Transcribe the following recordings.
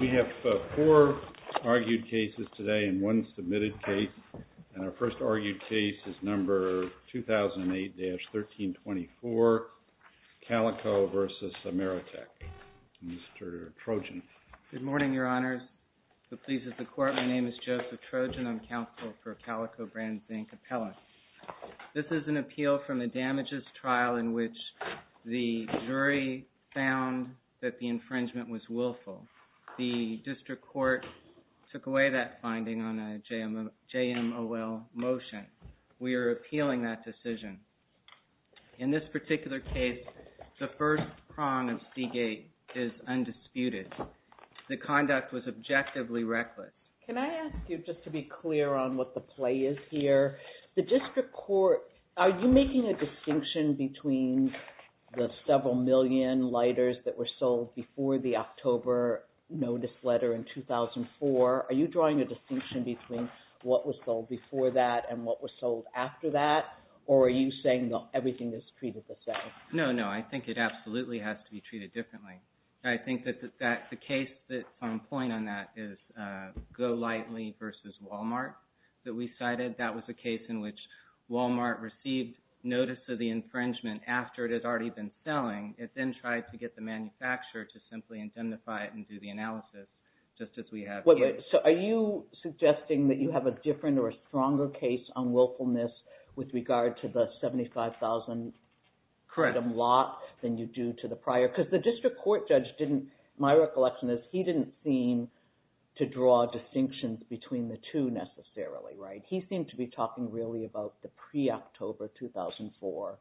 We have four argued cases today and one submitted case. And our first argued case is number 2008-1324, CALICO v. AMERITEK. Mr. Trojan. Good morning, Your Honors. The pleas of the Court, my name is Joseph Trojan. I'm counsel for CALICO BRAND's bank appellate. This is an appeal from a damages trial in which the jury found that the infringement was willful. The district court took away that finding on a JMOL motion. We are appealing that decision. In this particular case, the first prong of Seagate is undisputed. The conduct was objectively reckless. Can I ask you just to be clear on what the play is here? The district court, are you making a distinction between the several million lighters that were sold before the October notice letter in 2004? Are you drawing a distinction between what was sold before that and what was sold after that? Or are you saying that everything is treated the same? No, no. I think it absolutely has to be treated differently. I think that the case that's on point on that is Golightly v. Walmart that we cited. That was a case in which Walmart received notice of the infringement after it had already been selling. It then tried to get the manufacturer to simply indemnify it and do the analysis, just as we have here. So are you suggesting that you have a different or a stronger case on willfulness with regard to the $75,000 lot than you do to the prior? Because the district court judge didn't – my recollection is he didn't seem to draw distinctions between the two necessarily, right? He seemed to be talking really about the pre-October 2004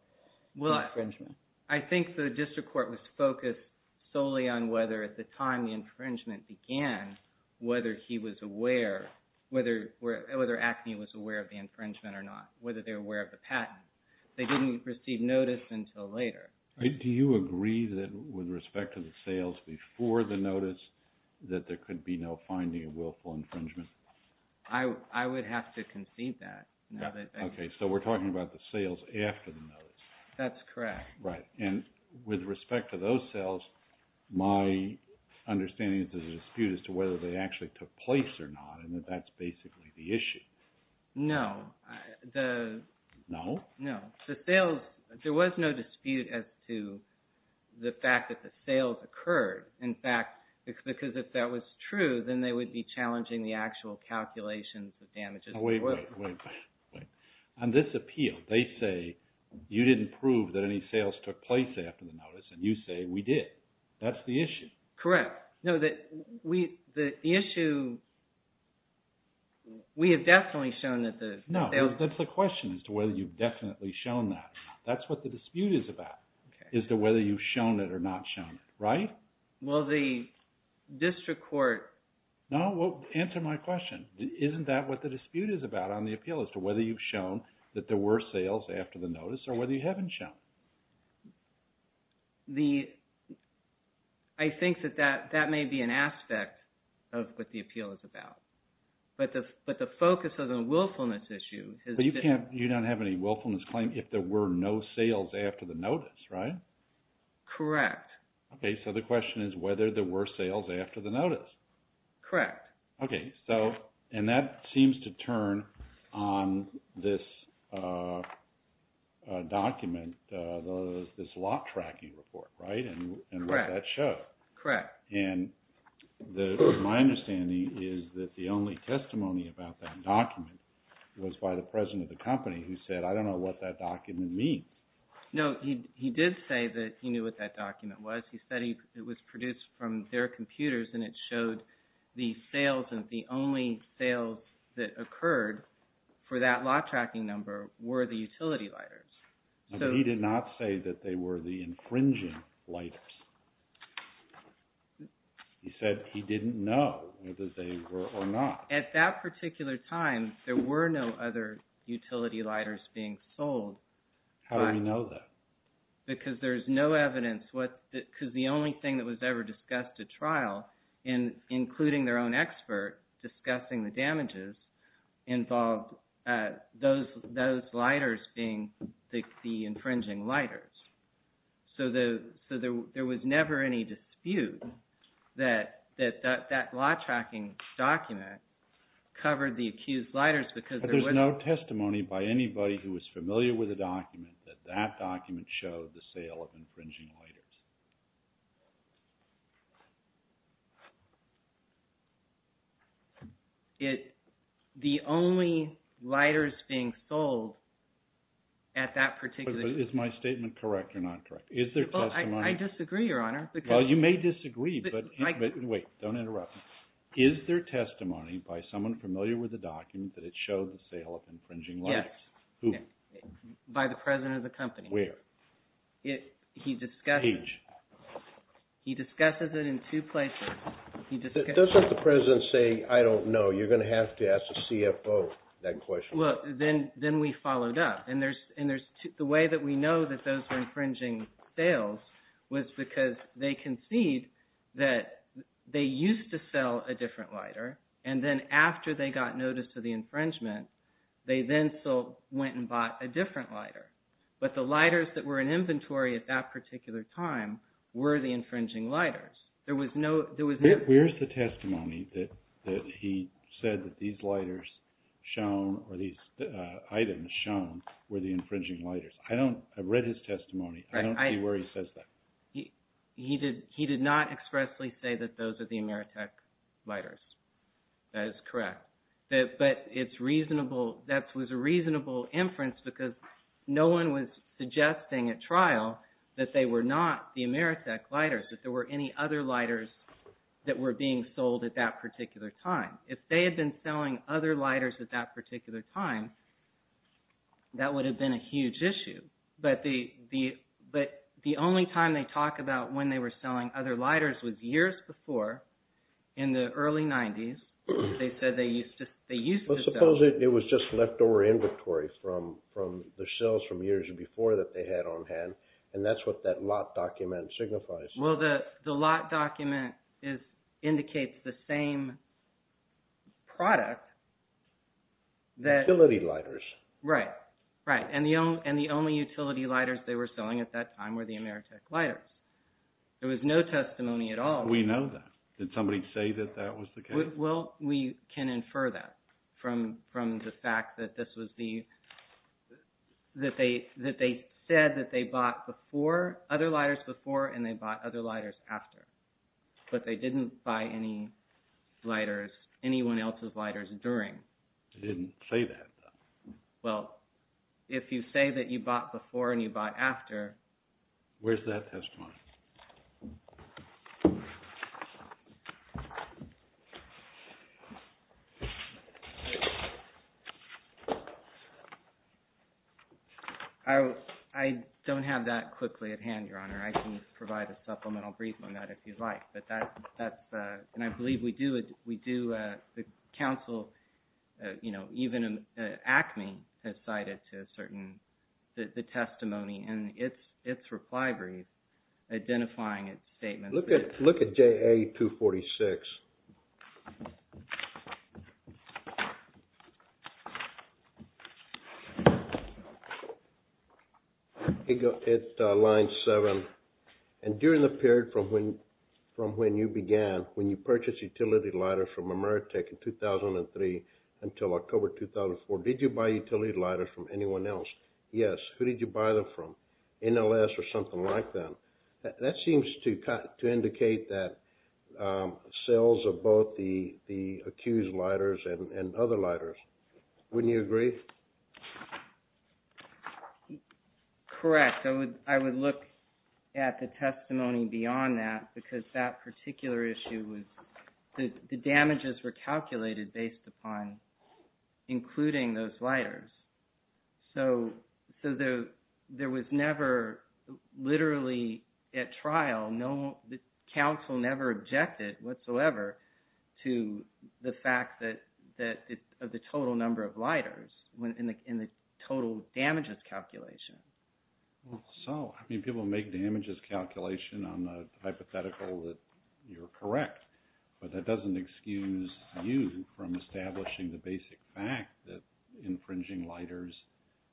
infringement. Well, I think the district court was focused solely on whether at the time the infringement began, whether he was aware – whether ACME was aware of the infringement or not, whether they were aware of the patent. They didn't receive notice until later. Do you agree that with respect to the sales before the notice that there could be no finding of willful infringement? I would have to concede that. Okay, so we're talking about the sales after the notice. That's correct. Right. And with respect to those sales, my understanding is there's a dispute as to whether they actually took place or not and that that's basically the issue. No. No? No. The sales – there was no dispute as to the fact that the sales occurred. In fact, because if that was true, then they would be challenging the actual calculations of damages. Wait, wait, wait. On this appeal, they say you didn't prove that any sales took place after the notice and you say we did. That's the issue. Correct. No, the issue – we have definitely shown that the – No, that's the question as to whether you've definitely shown that. That's what the dispute is about as to whether you've shown it or not shown it. Right? Well, the district court – No, answer my question. Isn't that what the dispute is about on the appeal as to whether you've shown that there were sales after the notice or whether you haven't shown? The – I think that that may be an aspect of what the appeal is about. But the focus of the willfulness issue is – But you can't – you don't have any willfulness claim if there were no sales after the notice, right? Correct. Okay, so the question is whether there were sales after the notice. Correct. Okay, so – and that seems to turn on this document, this lot tracking report, right? Correct. And what that showed. Correct. And my understanding is that the only testimony about that document was by the president of the company who said, I don't know what that document means. No, he did say that he knew what that document was. He said it was produced from their computers and it showed the sales and the only sales that occurred for that lot tracking number were the utility lighters. He did not say that they were the infringing lighters. He said he didn't know whether they were or not. At that particular time, there were no other utility lighters being sold. How do we know that? Because there's no evidence what – because the only thing that was ever discussed at trial, including their own expert discussing the damages, involved those lighters being the infringing lighters. So there was never any dispute that that lot tracking document covered the accused lighters because there was – There was no testimony by anybody who was familiar with the document that that document showed the sale of infringing lighters. It – the only lighters being sold at that particular – Is my statement correct or not correct? Is there testimony – I disagree, Your Honor. Well, you may disagree, but – wait, don't interrupt me. Is there testimony by someone familiar with the document that it showed the sale of infringing lighters? Yes. Who? By the president of the company. Where? It – he discussed it. Page. He discusses it in two places. Doesn't the president say, I don't know, you're going to have to ask the CFO that question? Well, then we followed up. And there's – the way that we know that those were infringing sales was because they concede that they used to sell a different lighter. And then after they got notice of the infringement, they then still went and bought a different lighter. But the lighters that were in inventory at that particular time were the infringing lighters. There was no – Where is the testimony that he said that these lighters shown or these items shown were the infringing lighters? I don't – I read his testimony. I don't see where he says that. He did not expressly say that those are the Ameritech lighters. That is correct. But it's reasonable – that was a reasonable inference because no one was suggesting at trial that they were not the Ameritech lighters, that there were any other lighters that were being sold at that particular time. If they had been selling other lighters at that particular time, that would have been a huge issue. But the only time they talk about when they were selling other lighters was years before in the early 90s. They said they used to sell. Well, suppose it was just leftover inventory from the sales from years before that they had on hand, and that's what that lot document signifies. Well, the lot document indicates the same product that – Utility lighters. Right, right. And the only utility lighters they were selling at that time were the Ameritech lighters. There was no testimony at all. We know that. Did somebody say that that was the case? Well, we can infer that from the fact that this was the – that they said that they bought other lighters before and they bought other lighters after. But they didn't buy any lighters – anyone else's lighters during. They didn't say that, though. Well, if you say that you bought before and you bought after – Where's that testimony? I don't have that quickly at hand, Your Honor. I can provide a supplemental brief on that if you'd like. But that's – and I believe we do – the counsel, you know, even ACME has cited the testimony in its reply brief identifying its statement. Look at JA-246. Okay. It's line 7. And during the period from when you began, when you purchased utility lighters from Ameritech in 2003 until October 2004, did you buy utility lighters from anyone else? Yes. Who did you buy them from? NLS or something like that? That seems to indicate that sales of both the accused lighters and other lighters. Wouldn't you agree? Correct. I would look at the testimony beyond that because that particular issue was – the damages were calculated based upon including those lighters. So there was never literally at trial – the counsel never objected whatsoever to the fact that the total number of lighters in the total damages calculation. So, I mean, people make damages calculation on the hypothetical that you're correct. But that doesn't excuse you from establishing the basic fact that infringing lighters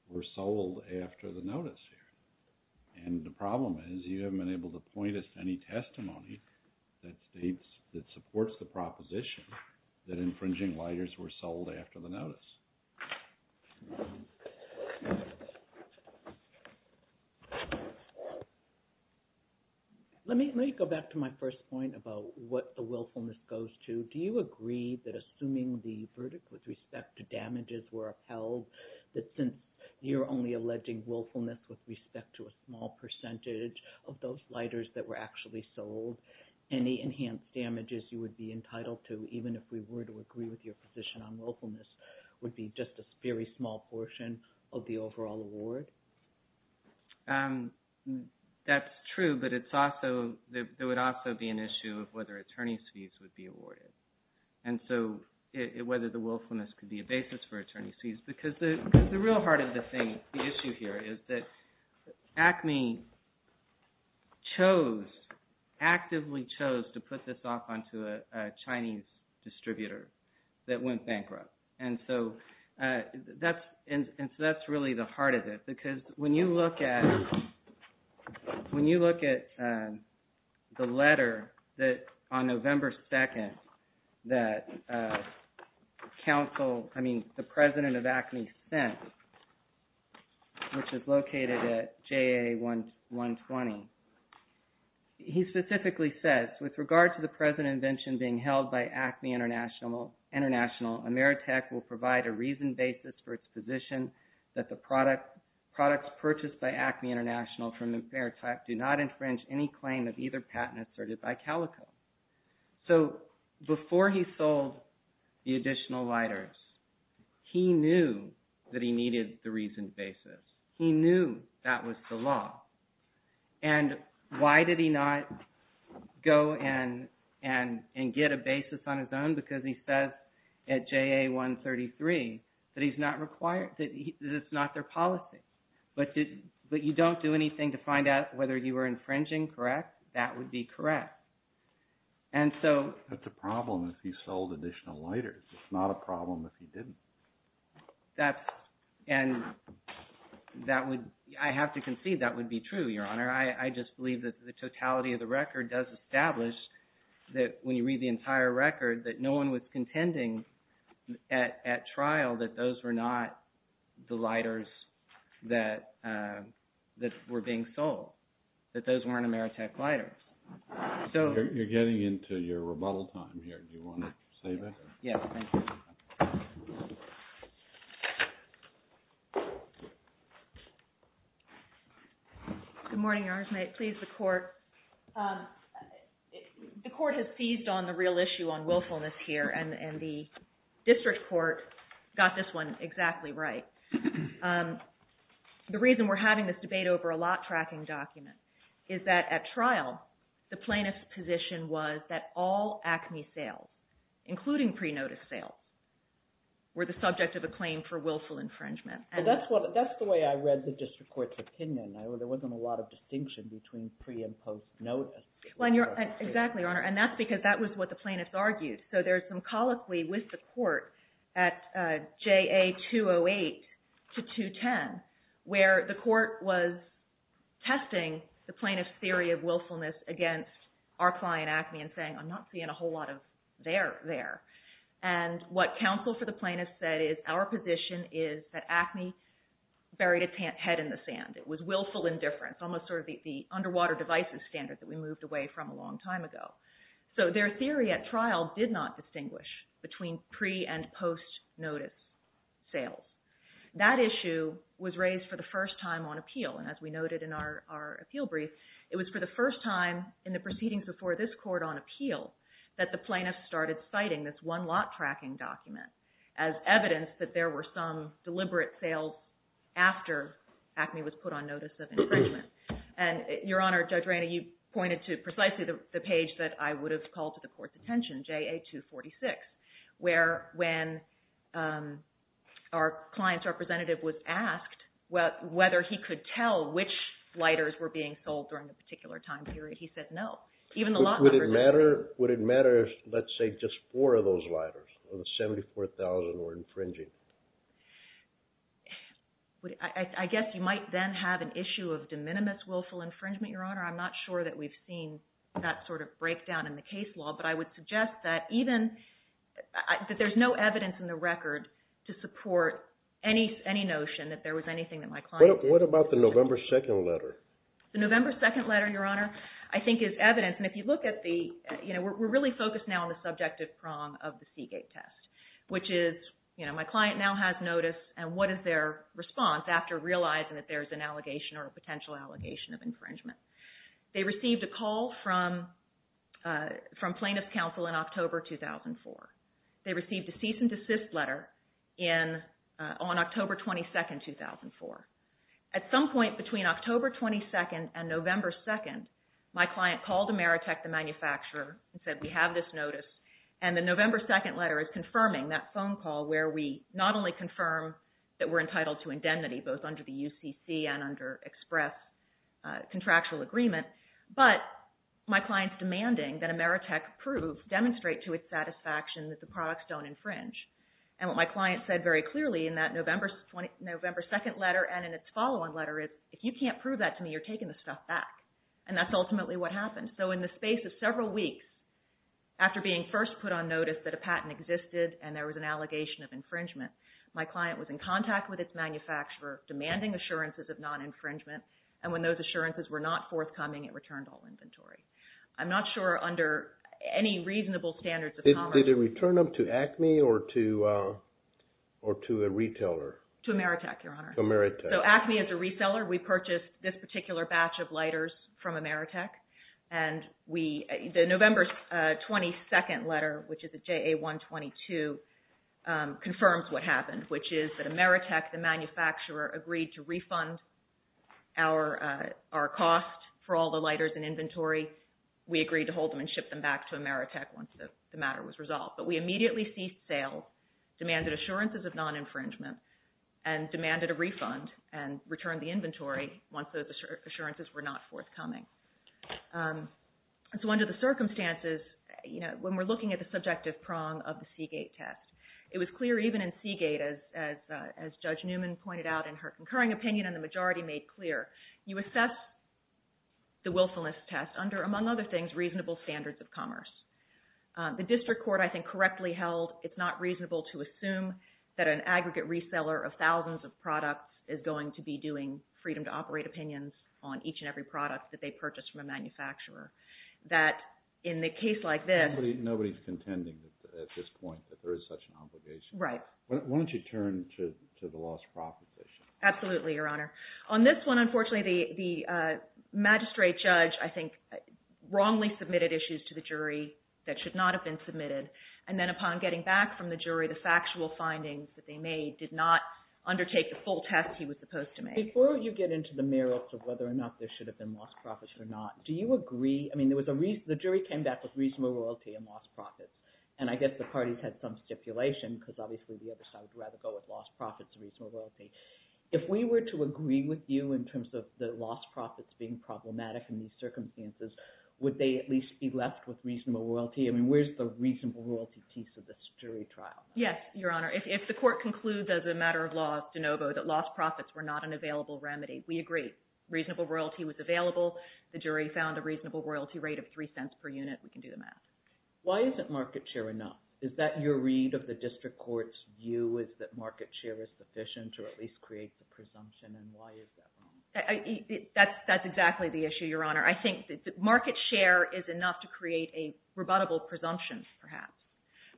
were sold after the notice here. And the problem is you haven't been able to point us to any testimony that states – that supports the proposition that infringing lighters were sold after the notice. Let me go back to my first point about what the willfulness goes to. Do you agree that assuming the verdict with respect to damages were upheld, that since you're only alleging willfulness with respect to a small percentage of those lighters that were actually sold, any enhanced damages you would be entitled to, even if we were to agree with your position on willfulness, would be just a very small portion of the overall award? That's true, but it's also – there would also be an issue of whether attorney's fees would be awarded and so whether the willfulness could be a basis for attorney's fees. Because the real heart of the thing – the issue here is that ACME chose – actively chose to put this off onto a Chinese distributor that went bankrupt. And so that's really the heart of it because when you look at – when you look at the letter on November 2nd that counsel – I mean the president of ACME sent, which is located at JA120, he specifically says, with regard to the present invention being held by ACME International, Ameritech will provide a reasoned basis for its position that the products purchased by ACME International from Ameritech do not infringe any claim of either patents asserted by Calico. So before he sold the additional lighters, he knew that he needed the reasoned basis. He knew that was the law. And why did he not go and get a basis on his own? Because he says at JA133 that he's not required – that it's not their policy. But you don't do anything to find out whether you were infringing, correct? That would be correct. And so – That's a problem if he sold additional lighters. It's not a problem if he didn't. And that would – I have to concede that would be true, Your Honor. I just believe that the totality of the record does establish that when you read the entire record that no one was contending at trial that those were not the lighters that were being sold, that those weren't Ameritech lighters. You're getting into your rebuttal time here. Do you want to say that? Good morning, Your Honor. May it please the Court? The Court has seized on the real issue on willfulness here, and the district court got this one exactly right. The reason we're having this debate over a lot-tracking document is that at trial the plaintiff's position was that all ACME sales, including pre-notice sales, were the subject of a claim for willful infringement. That's the way I read the district court's opinion. There wasn't a lot of distinction between pre- and post-notice. Exactly, Your Honor. And that's because that was what the plaintiffs argued. So there's some colloquy with the court at JA 208 to 210 where the court was testing the plaintiff's theory of willfulness against our client ACME and saying, I'm not seeing a whole lot of there there. And what counsel for the plaintiff said is, our position is that ACME buried its head in the sand. It was willful indifference, almost sort of the underwater devices standard that we moved away from a long time ago. So their theory at trial did not distinguish between pre- and post-notice sales. That issue was raised for the first time on appeal. And as we noted in our appeal brief, it was for the first time in the proceedings before this court on appeal that the plaintiffs started citing this one-lot tracking document as evidence that there were some deliberate sales after ACME was put on notice of infringement. And Your Honor, Judge Rainey, you pointed to precisely the page that I would have called to the court's attention, JA 246, where when our client's representative was asked whether he could tell which lighters were being sold during a particular time period, he said no. Would it matter if, let's say, just four of those lighters, of the 74,000, were infringing? I guess you might then have an issue of de minimis willful infringement, Your Honor. I'm not sure that we've seen that sort of breakdown in the case law. But I would suggest that there's no evidence in the record to support any notion that there was anything that my client— What about the November 2nd letter? The November 2nd letter, Your Honor, I think is evidence. And if you look at the—we're really focused now on the subjective prong of the Seagate test, which is my client now has notice, and what is their response after realizing that there's an allegation or a potential allegation of infringement? They received a call from plaintiff's counsel in October 2004. They received a cease and desist letter on October 22nd, 2004. At some point between October 22nd and November 2nd, my client called Ameritech, the manufacturer, and said we have this notice. And the November 2nd letter is confirming that phone call where we not only confirm that we're entitled to indemnity, both under the UCC and under express contractual agreement, but my client's demanding that Ameritech prove, demonstrate to its satisfaction that the products don't infringe. And what my client said very clearly in that November 2nd letter and in its follow-on letter is, if you can't prove that to me, you're taking the stuff back. And that's ultimately what happened. So in the space of several weeks after being first put on notice that a patent existed and there was an allegation of infringement, my client was in contact with its manufacturer demanding assurances of non-infringement. And when those assurances were not forthcoming, it returned all inventory. I'm not sure under any reasonable standards of commerce— Or to a retailer. To Ameritech, Your Honor. To Ameritech. So Acme as a reseller, we purchased this particular batch of lighters from Ameritech. And the November 22nd letter, which is a JA-122, confirms what happened, which is that Ameritech, the manufacturer, agreed to refund our cost for all the lighters and inventory. We agreed to hold them and ship them back to Ameritech once the matter was resolved. But we immediately ceased sales, demanded assurances of non-infringement, and demanded a refund and returned the inventory once those assurances were not forthcoming. So under the circumstances, when we're looking at the subjective prong of the Seagate test, it was clear even in Seagate, as Judge Newman pointed out in her concurring opinion and the majority made clear, you assess the willfulness test under, among other things, reasonable standards of commerce. The district court, I think, correctly held it's not reasonable to assume that an aggregate reseller of thousands of products is going to be doing freedom-to-operate opinions on each and every product that they purchase from a manufacturer. That in a case like this— Nobody's contending at this point that there is such an obligation. Right. Why don't you turn to the lost profit issue? Absolutely, Your Honor. On this one, unfortunately, the magistrate judge, I think, wrongly submitted issues to the jury that should not have been submitted. And then upon getting back from the jury, the factual findings that they made did not undertake the full test he was supposed to make. Before you get into the merits of whether or not there should have been lost profits or not, do you agree—I mean, the jury came back with reasonable royalty and lost profits. And I guess the parties had some stipulation because obviously the other side would rather go with lost profits than reasonable royalty. If we were to agree with you in terms of the lost profits being problematic in these circumstances, would they at least be left with reasonable royalty? I mean, where's the reasonable royalty piece of this jury trial? Yes, Your Honor. If the court concludes as a matter of law, de novo, that lost profits were not an available remedy, we agree. Reasonable royalty was available. The jury found a reasonable royalty rate of 3 cents per unit. We can do the math. Why isn't market share enough? Is that your read of the district court's view, is that market share is sufficient to at least create the presumption, and why is that wrong? That's exactly the issue, Your Honor. I think market share is enough to create a rebuttable presumption, perhaps.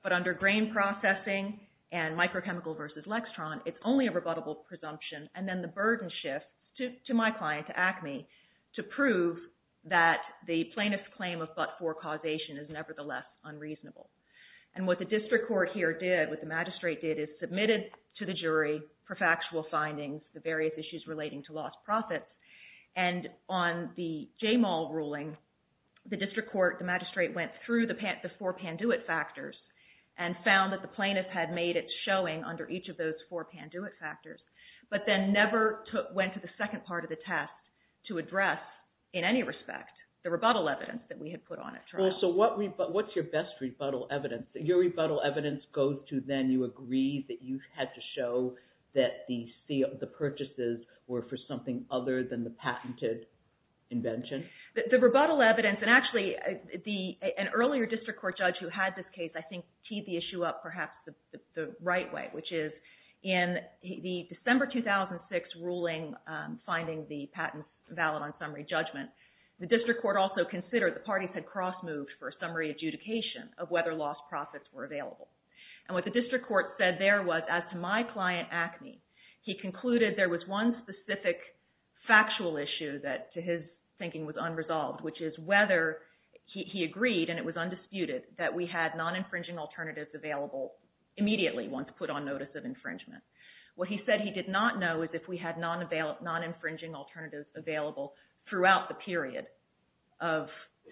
But under grain processing and microchemical versus lextron, it's only a rebuttable presumption. And then the burden shifts to my client, to ACME, to prove that the plaintiff's claim of but-for causation is nevertheless unreasonable. And what the district court here did, what the magistrate did, is submitted to the jury for factual findings, the various issues relating to lost profits. And on the J. Mull ruling, the district court, the magistrate went through the four Panduit factors and found that the plaintiff had made its showing under each of those four Panduit factors. But then never went to the second part of the test to address, in any respect, the rebuttal evidence that we had put on it. So what's your best rebuttal evidence? Your rebuttal evidence goes to then you agree that you had to show that the purchases were for something other than the patented invention? The rebuttal evidence, and actually an earlier district court judge who had this case, I think, teed the issue up perhaps the right way, which is in the December 2006 ruling finding the patents valid on summary judgment, the district court also considered the parties had cross-moved for summary adjudication of whether lost profits were available. And what the district court said there was, as to my client, Acme, he concluded there was one specific factual issue that to his thinking was unresolved, which is whether he agreed, and it was undisputed, that we had non-infringing alternatives available immediately once put on notice of infringement. What he said he did not know is if we had non-infringing alternatives available throughout the period of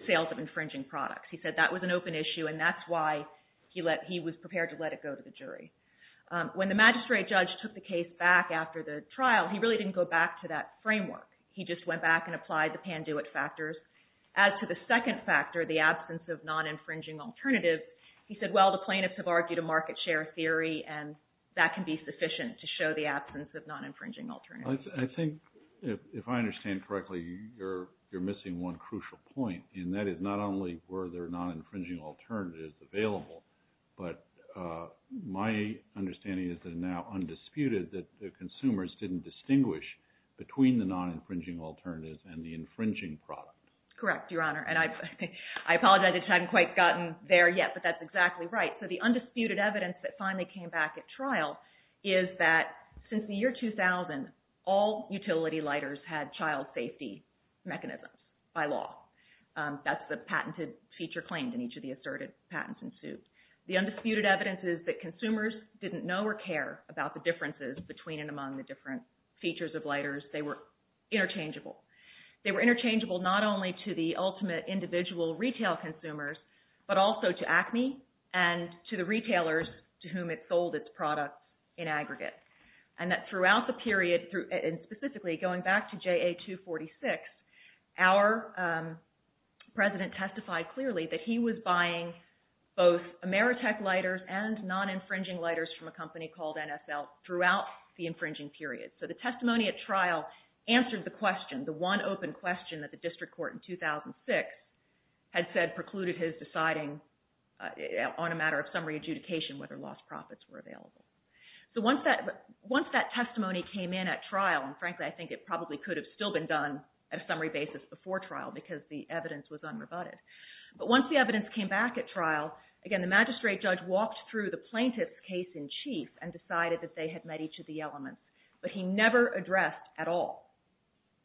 sales of infringing products. He said that was an open issue, and that's why he was prepared to let it go to the jury. When the magistrate judge took the case back after the trial, he really didn't go back to that framework. He just went back and applied the Panduit factors. As to the second factor, the absence of non-infringing alternatives, he said, well, the plaintiffs have argued a market share theory, and that can be sufficient to show the absence of non-infringing alternatives. I think, if I understand correctly, you're missing one crucial point, and that is not only were there non-infringing alternatives available, but my understanding is that it's now undisputed that the consumers didn't distinguish between the non-infringing alternatives and the infringing products. Correct, Your Honor. And I apologize, I haven't quite gotten there yet, but that's exactly right. So the undisputed evidence that finally came back at trial is that since the year 2000, all utility lighters had child safety mechanisms by law. That's the patented feature claimed in each of the asserted patents and suits. The undisputed evidence is that consumers didn't know or care about the differences between and among the different features of lighters. They were interchangeable. They were interchangeable not only to the ultimate individual retail consumers, but also to ACME and to the retailers to whom it sold its products in aggregate. And that throughout the period, and specifically going back to JA246, our president testified clearly that he was buying both Ameritech lighters and non-infringing lighters from a company called NSL throughout the infringing period. So the testimony at trial answered the question, the one open question that the district court in 2006 had said precluded his deciding on a matter of summary adjudication whether lost profits were available. So once that testimony came in at trial, and frankly I think it probably could have still been done at a summary basis before trial because the evidence was unrebutted. But once the evidence came back at trial, again the magistrate judge walked through the plaintiff's case in chief and decided that they had met each of the elements. But he never addressed at all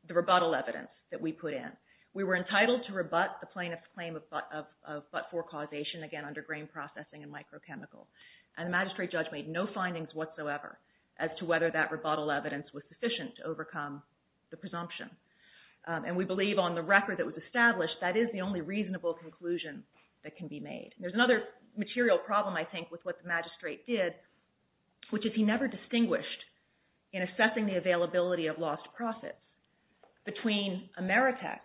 the rebuttal evidence that we put in. We were entitled to rebut the plaintiff's claim of but-for causation, again under grain processing and microchemical. And the magistrate judge made no findings whatsoever as to whether that rebuttal evidence was sufficient to overcome the presumption. And we believe on the record that was established, that is the only reasonable conclusion that can be made. There's another material problem I think with what the magistrate did, which is he never distinguished in assessing the availability of lost profits between Ameritech,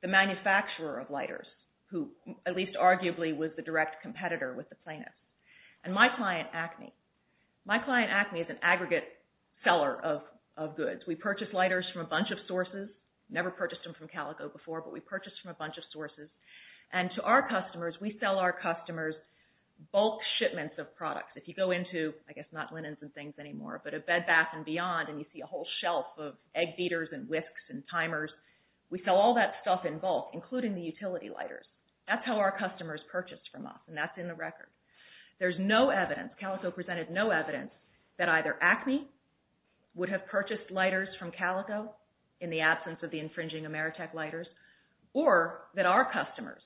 the manufacturer of lighters, who at least arguably was the direct competitor with the plaintiff, and my client Acme. My client Acme is an aggregate seller of goods. We purchase lighters from a bunch of sources. Never purchased them from Calico before, but we purchased from a bunch of sources. And to our customers, we sell our customers bulk shipments of products. If you go into, I guess not linens and things anymore, but a Bed Bath and Beyond and you see a whole shelf of egg beaters and whisks and timers, we sell all that stuff in bulk, including the utility lighters. That's how our customers purchase from us, and that's in the record. There's no evidence, Calico presented no evidence, that either Acme would have purchased lighters from Calico in the absence of the infringing Ameritech lighters, or that our customers,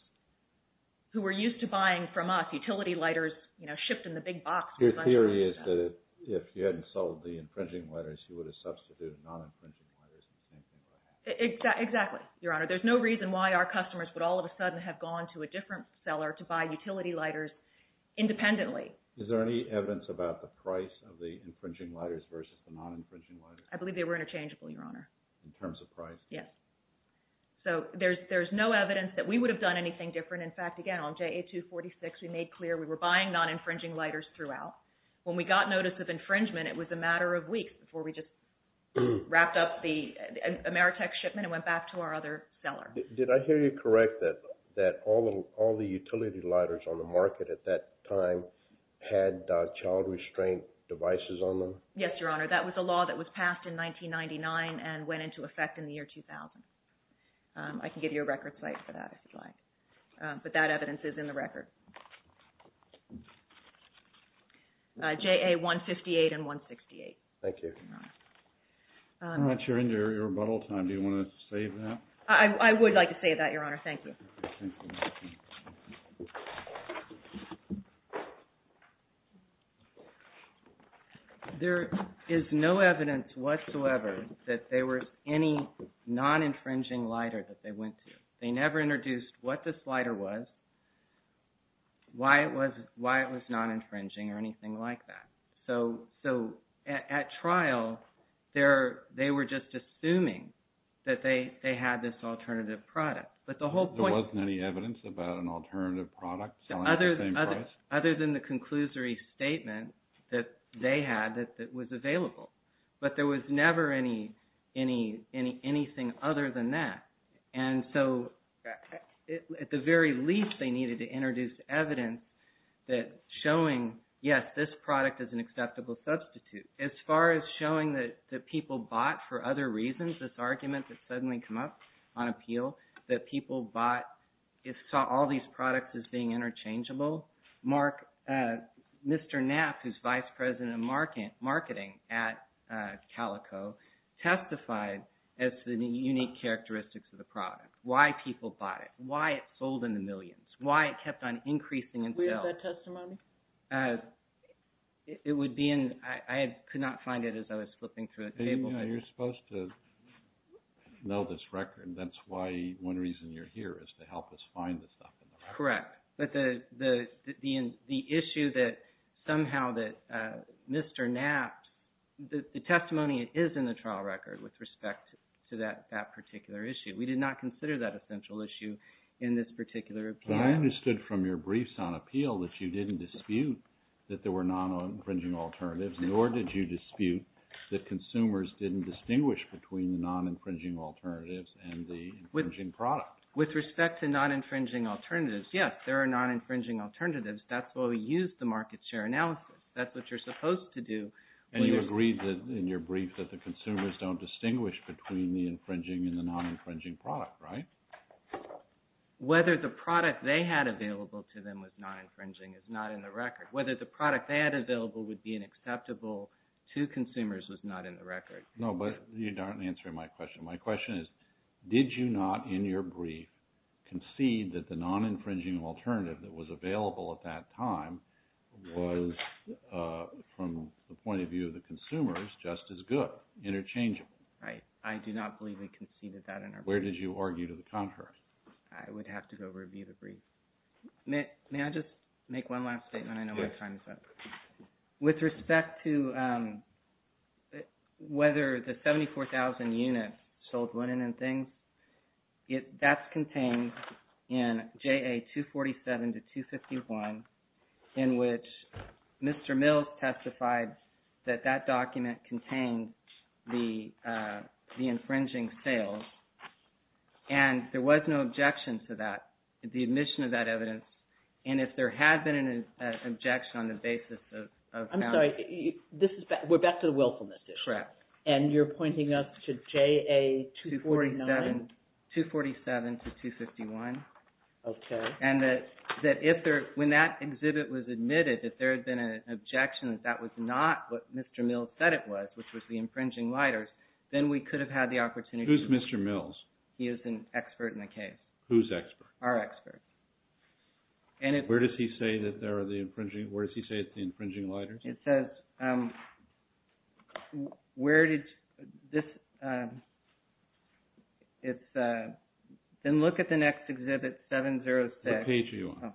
who were used to buying from us utility lighters shipped in the big box. Your theory is that if you hadn't sold the infringing lighters, you would have substituted non-infringing lighters. Exactly, Your Honor. There's no reason why our customers would all of a sudden have gone to a different seller to buy utility lighters independently. Is there any evidence about the price of the infringing lighters versus the non-infringing lighters? I believe they were interchangeable, Your Honor. In terms of price? Yes. So there's no evidence that we would have done anything different. In fact, again, on JA246, we made clear we were buying non-infringing lighters throughout. When we got notice of infringement, it was a matter of weeks before we just wrapped up the Ameritech shipment and went back to our other seller. Did I hear you correct that all the utility lighters on the market at that time had child restraint devices on them? Yes, Your Honor. That was a law that was passed in 1999 and went into effect in the year 2000. I can give you a record site for that, if you'd like. But that evidence is in the record. JA158 and 168. Thank you. All right, you're in your rebuttal time. Do you want to say that? I would like to say that, Your Honor. Thank you. There is no evidence whatsoever that there was any non-infringing lighter that they went to. They never introduced what this lighter was, why it was non-infringing, or anything like that. So at trial, they were just assuming that they had this alternative product. There wasn't any evidence about an alternative product selling at the same price? Other than the conclusory statement that they had that was available. But there was never anything other than that. And so at the very least, they needed to introduce evidence that showing, yes, this product is an acceptable substitute. As far as showing that people bought for other reasons, this argument that suddenly came up on appeal, that people bought all these products as being interchangeable. Mr. Knapp, who is Vice President of Marketing at Calico, testified as to the unique characteristics of the product. Why people bought it. Why it sold in the millions. Why it kept on increasing in sales. Where is that testimony? It would be in, I could not find it as I was flipping through the table. You're supposed to know this record. That's why, one reason you're here is to help us find this stuff. Correct. But the issue that somehow that Mr. Knapp, the testimony is in the trial record with respect to that particular issue. We did not consider that a central issue in this particular appeal. But I understood from your briefs on appeal that you didn't dispute that there were non-infringing alternatives, nor did you dispute that consumers didn't distinguish between the non-infringing alternatives and the infringing product. With respect to non-infringing alternatives, yes, there are non-infringing alternatives. That's why we use the market share analysis. That's what you're supposed to do. And you agreed in your brief that the consumers don't distinguish between the infringing and the non-infringing product, right? Whether the product they had available to them was non-infringing is not in the record. Whether the product they had available would be unacceptable to consumers is not in the record. No, but you're not answering my question. My question is, did you not in your brief concede that the non-infringing alternative that was available at that time was, from the point of view of the consumers, just as good, interchangeable? Right. I do not believe we conceded that in our brief. Where did you argue to the contrary? I would have to go review the brief. May I just make one last statement? I know my time is up. With respect to whether the 74,000 units sold women and things, that's contained in JA 247 to 251, in which Mr. Mills testified that that document contained the infringing sales. And there was no objection to that, the admission of that evidence. And if there had been an objection on the basis of how – I'm sorry, this is – we're back to the willfulness issue. Correct. And you're pointing us to JA 249 – 247 to 251. Okay. And that if there – when that exhibit was admitted, if there had been an objection that that was not what Mr. Mills said it was, which was the infringing lighters, then we could have had the opportunity to – Who's Mr. Mills? He is an expert in the case. Who's expert? Our expert. Where does he say that there are the infringing – where does he say it's the infringing lighters? It says – where did – this – it's – then look at the next exhibit, 706. What page are you on?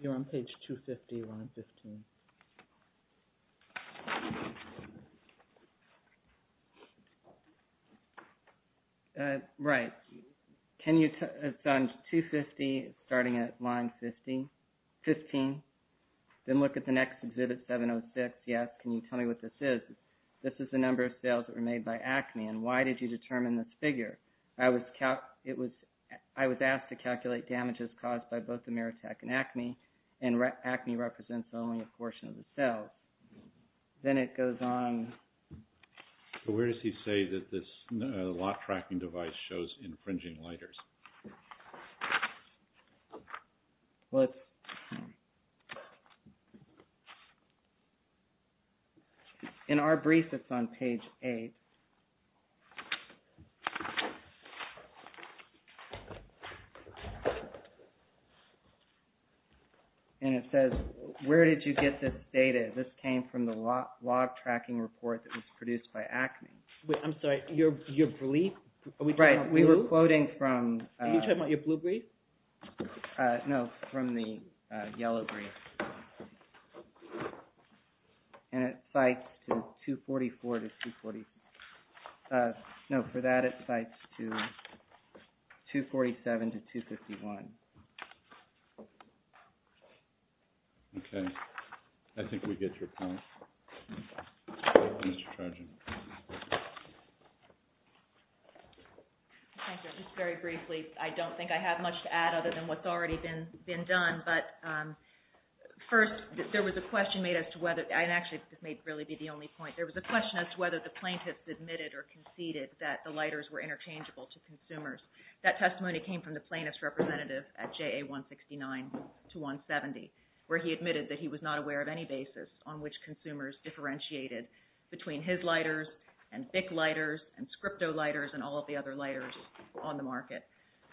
You're on page 250, line 15. Right. Can you – it's on 250, starting at line 15. Then look at the next exhibit, 706. Yes, can you tell me what this is? This is the number of sales that were made by Acme, and why did you determine this figure? I was – it was – I was asked to calculate damages caused by both Ameritech and Acme, and Acme represents only a portion of the sales. Then it goes on – So where does he say that this lot tracking device shows infringing lighters? Well, it's – in our brief, it's on page 8, and it says, where did you get this data? This came from the log tracking report that was produced by Acme. Wait, I'm sorry. Your belief – Right, we were quoting from – Are you talking about your blue brief? No, from the yellow brief. And it cites 244 to – no, for that it cites 247 to 251. Okay. I think we get your point. Mr. Trojan. Thank you. Just very briefly, I don't think I have much to add other than what's already been done. But first, there was a question made as to whether – and actually, this may really be the only point. There was a question as to whether the plaintiffs admitted or conceded that the lighters were interchangeable to consumers. That testimony came from the plaintiff's representative at JA 169 to 170, where he admitted that he was not aware of any basis on which consumers differentiated between his lighters and BIC lighters and Scripto lighters and all of the other lighters on the market.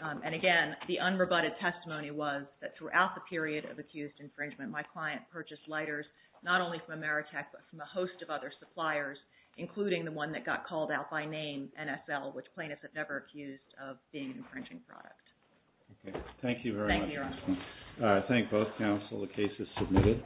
And again, the unrebutted testimony was that throughout the period of accused infringement, my client purchased lighters not only from Ameritech but from a host of other suppliers, including the one that got called out by name, NSL, which plaintiffs have never accused of being an infringing product. Okay. Thank you very much. Thank you, Your Honor. The case is submitted.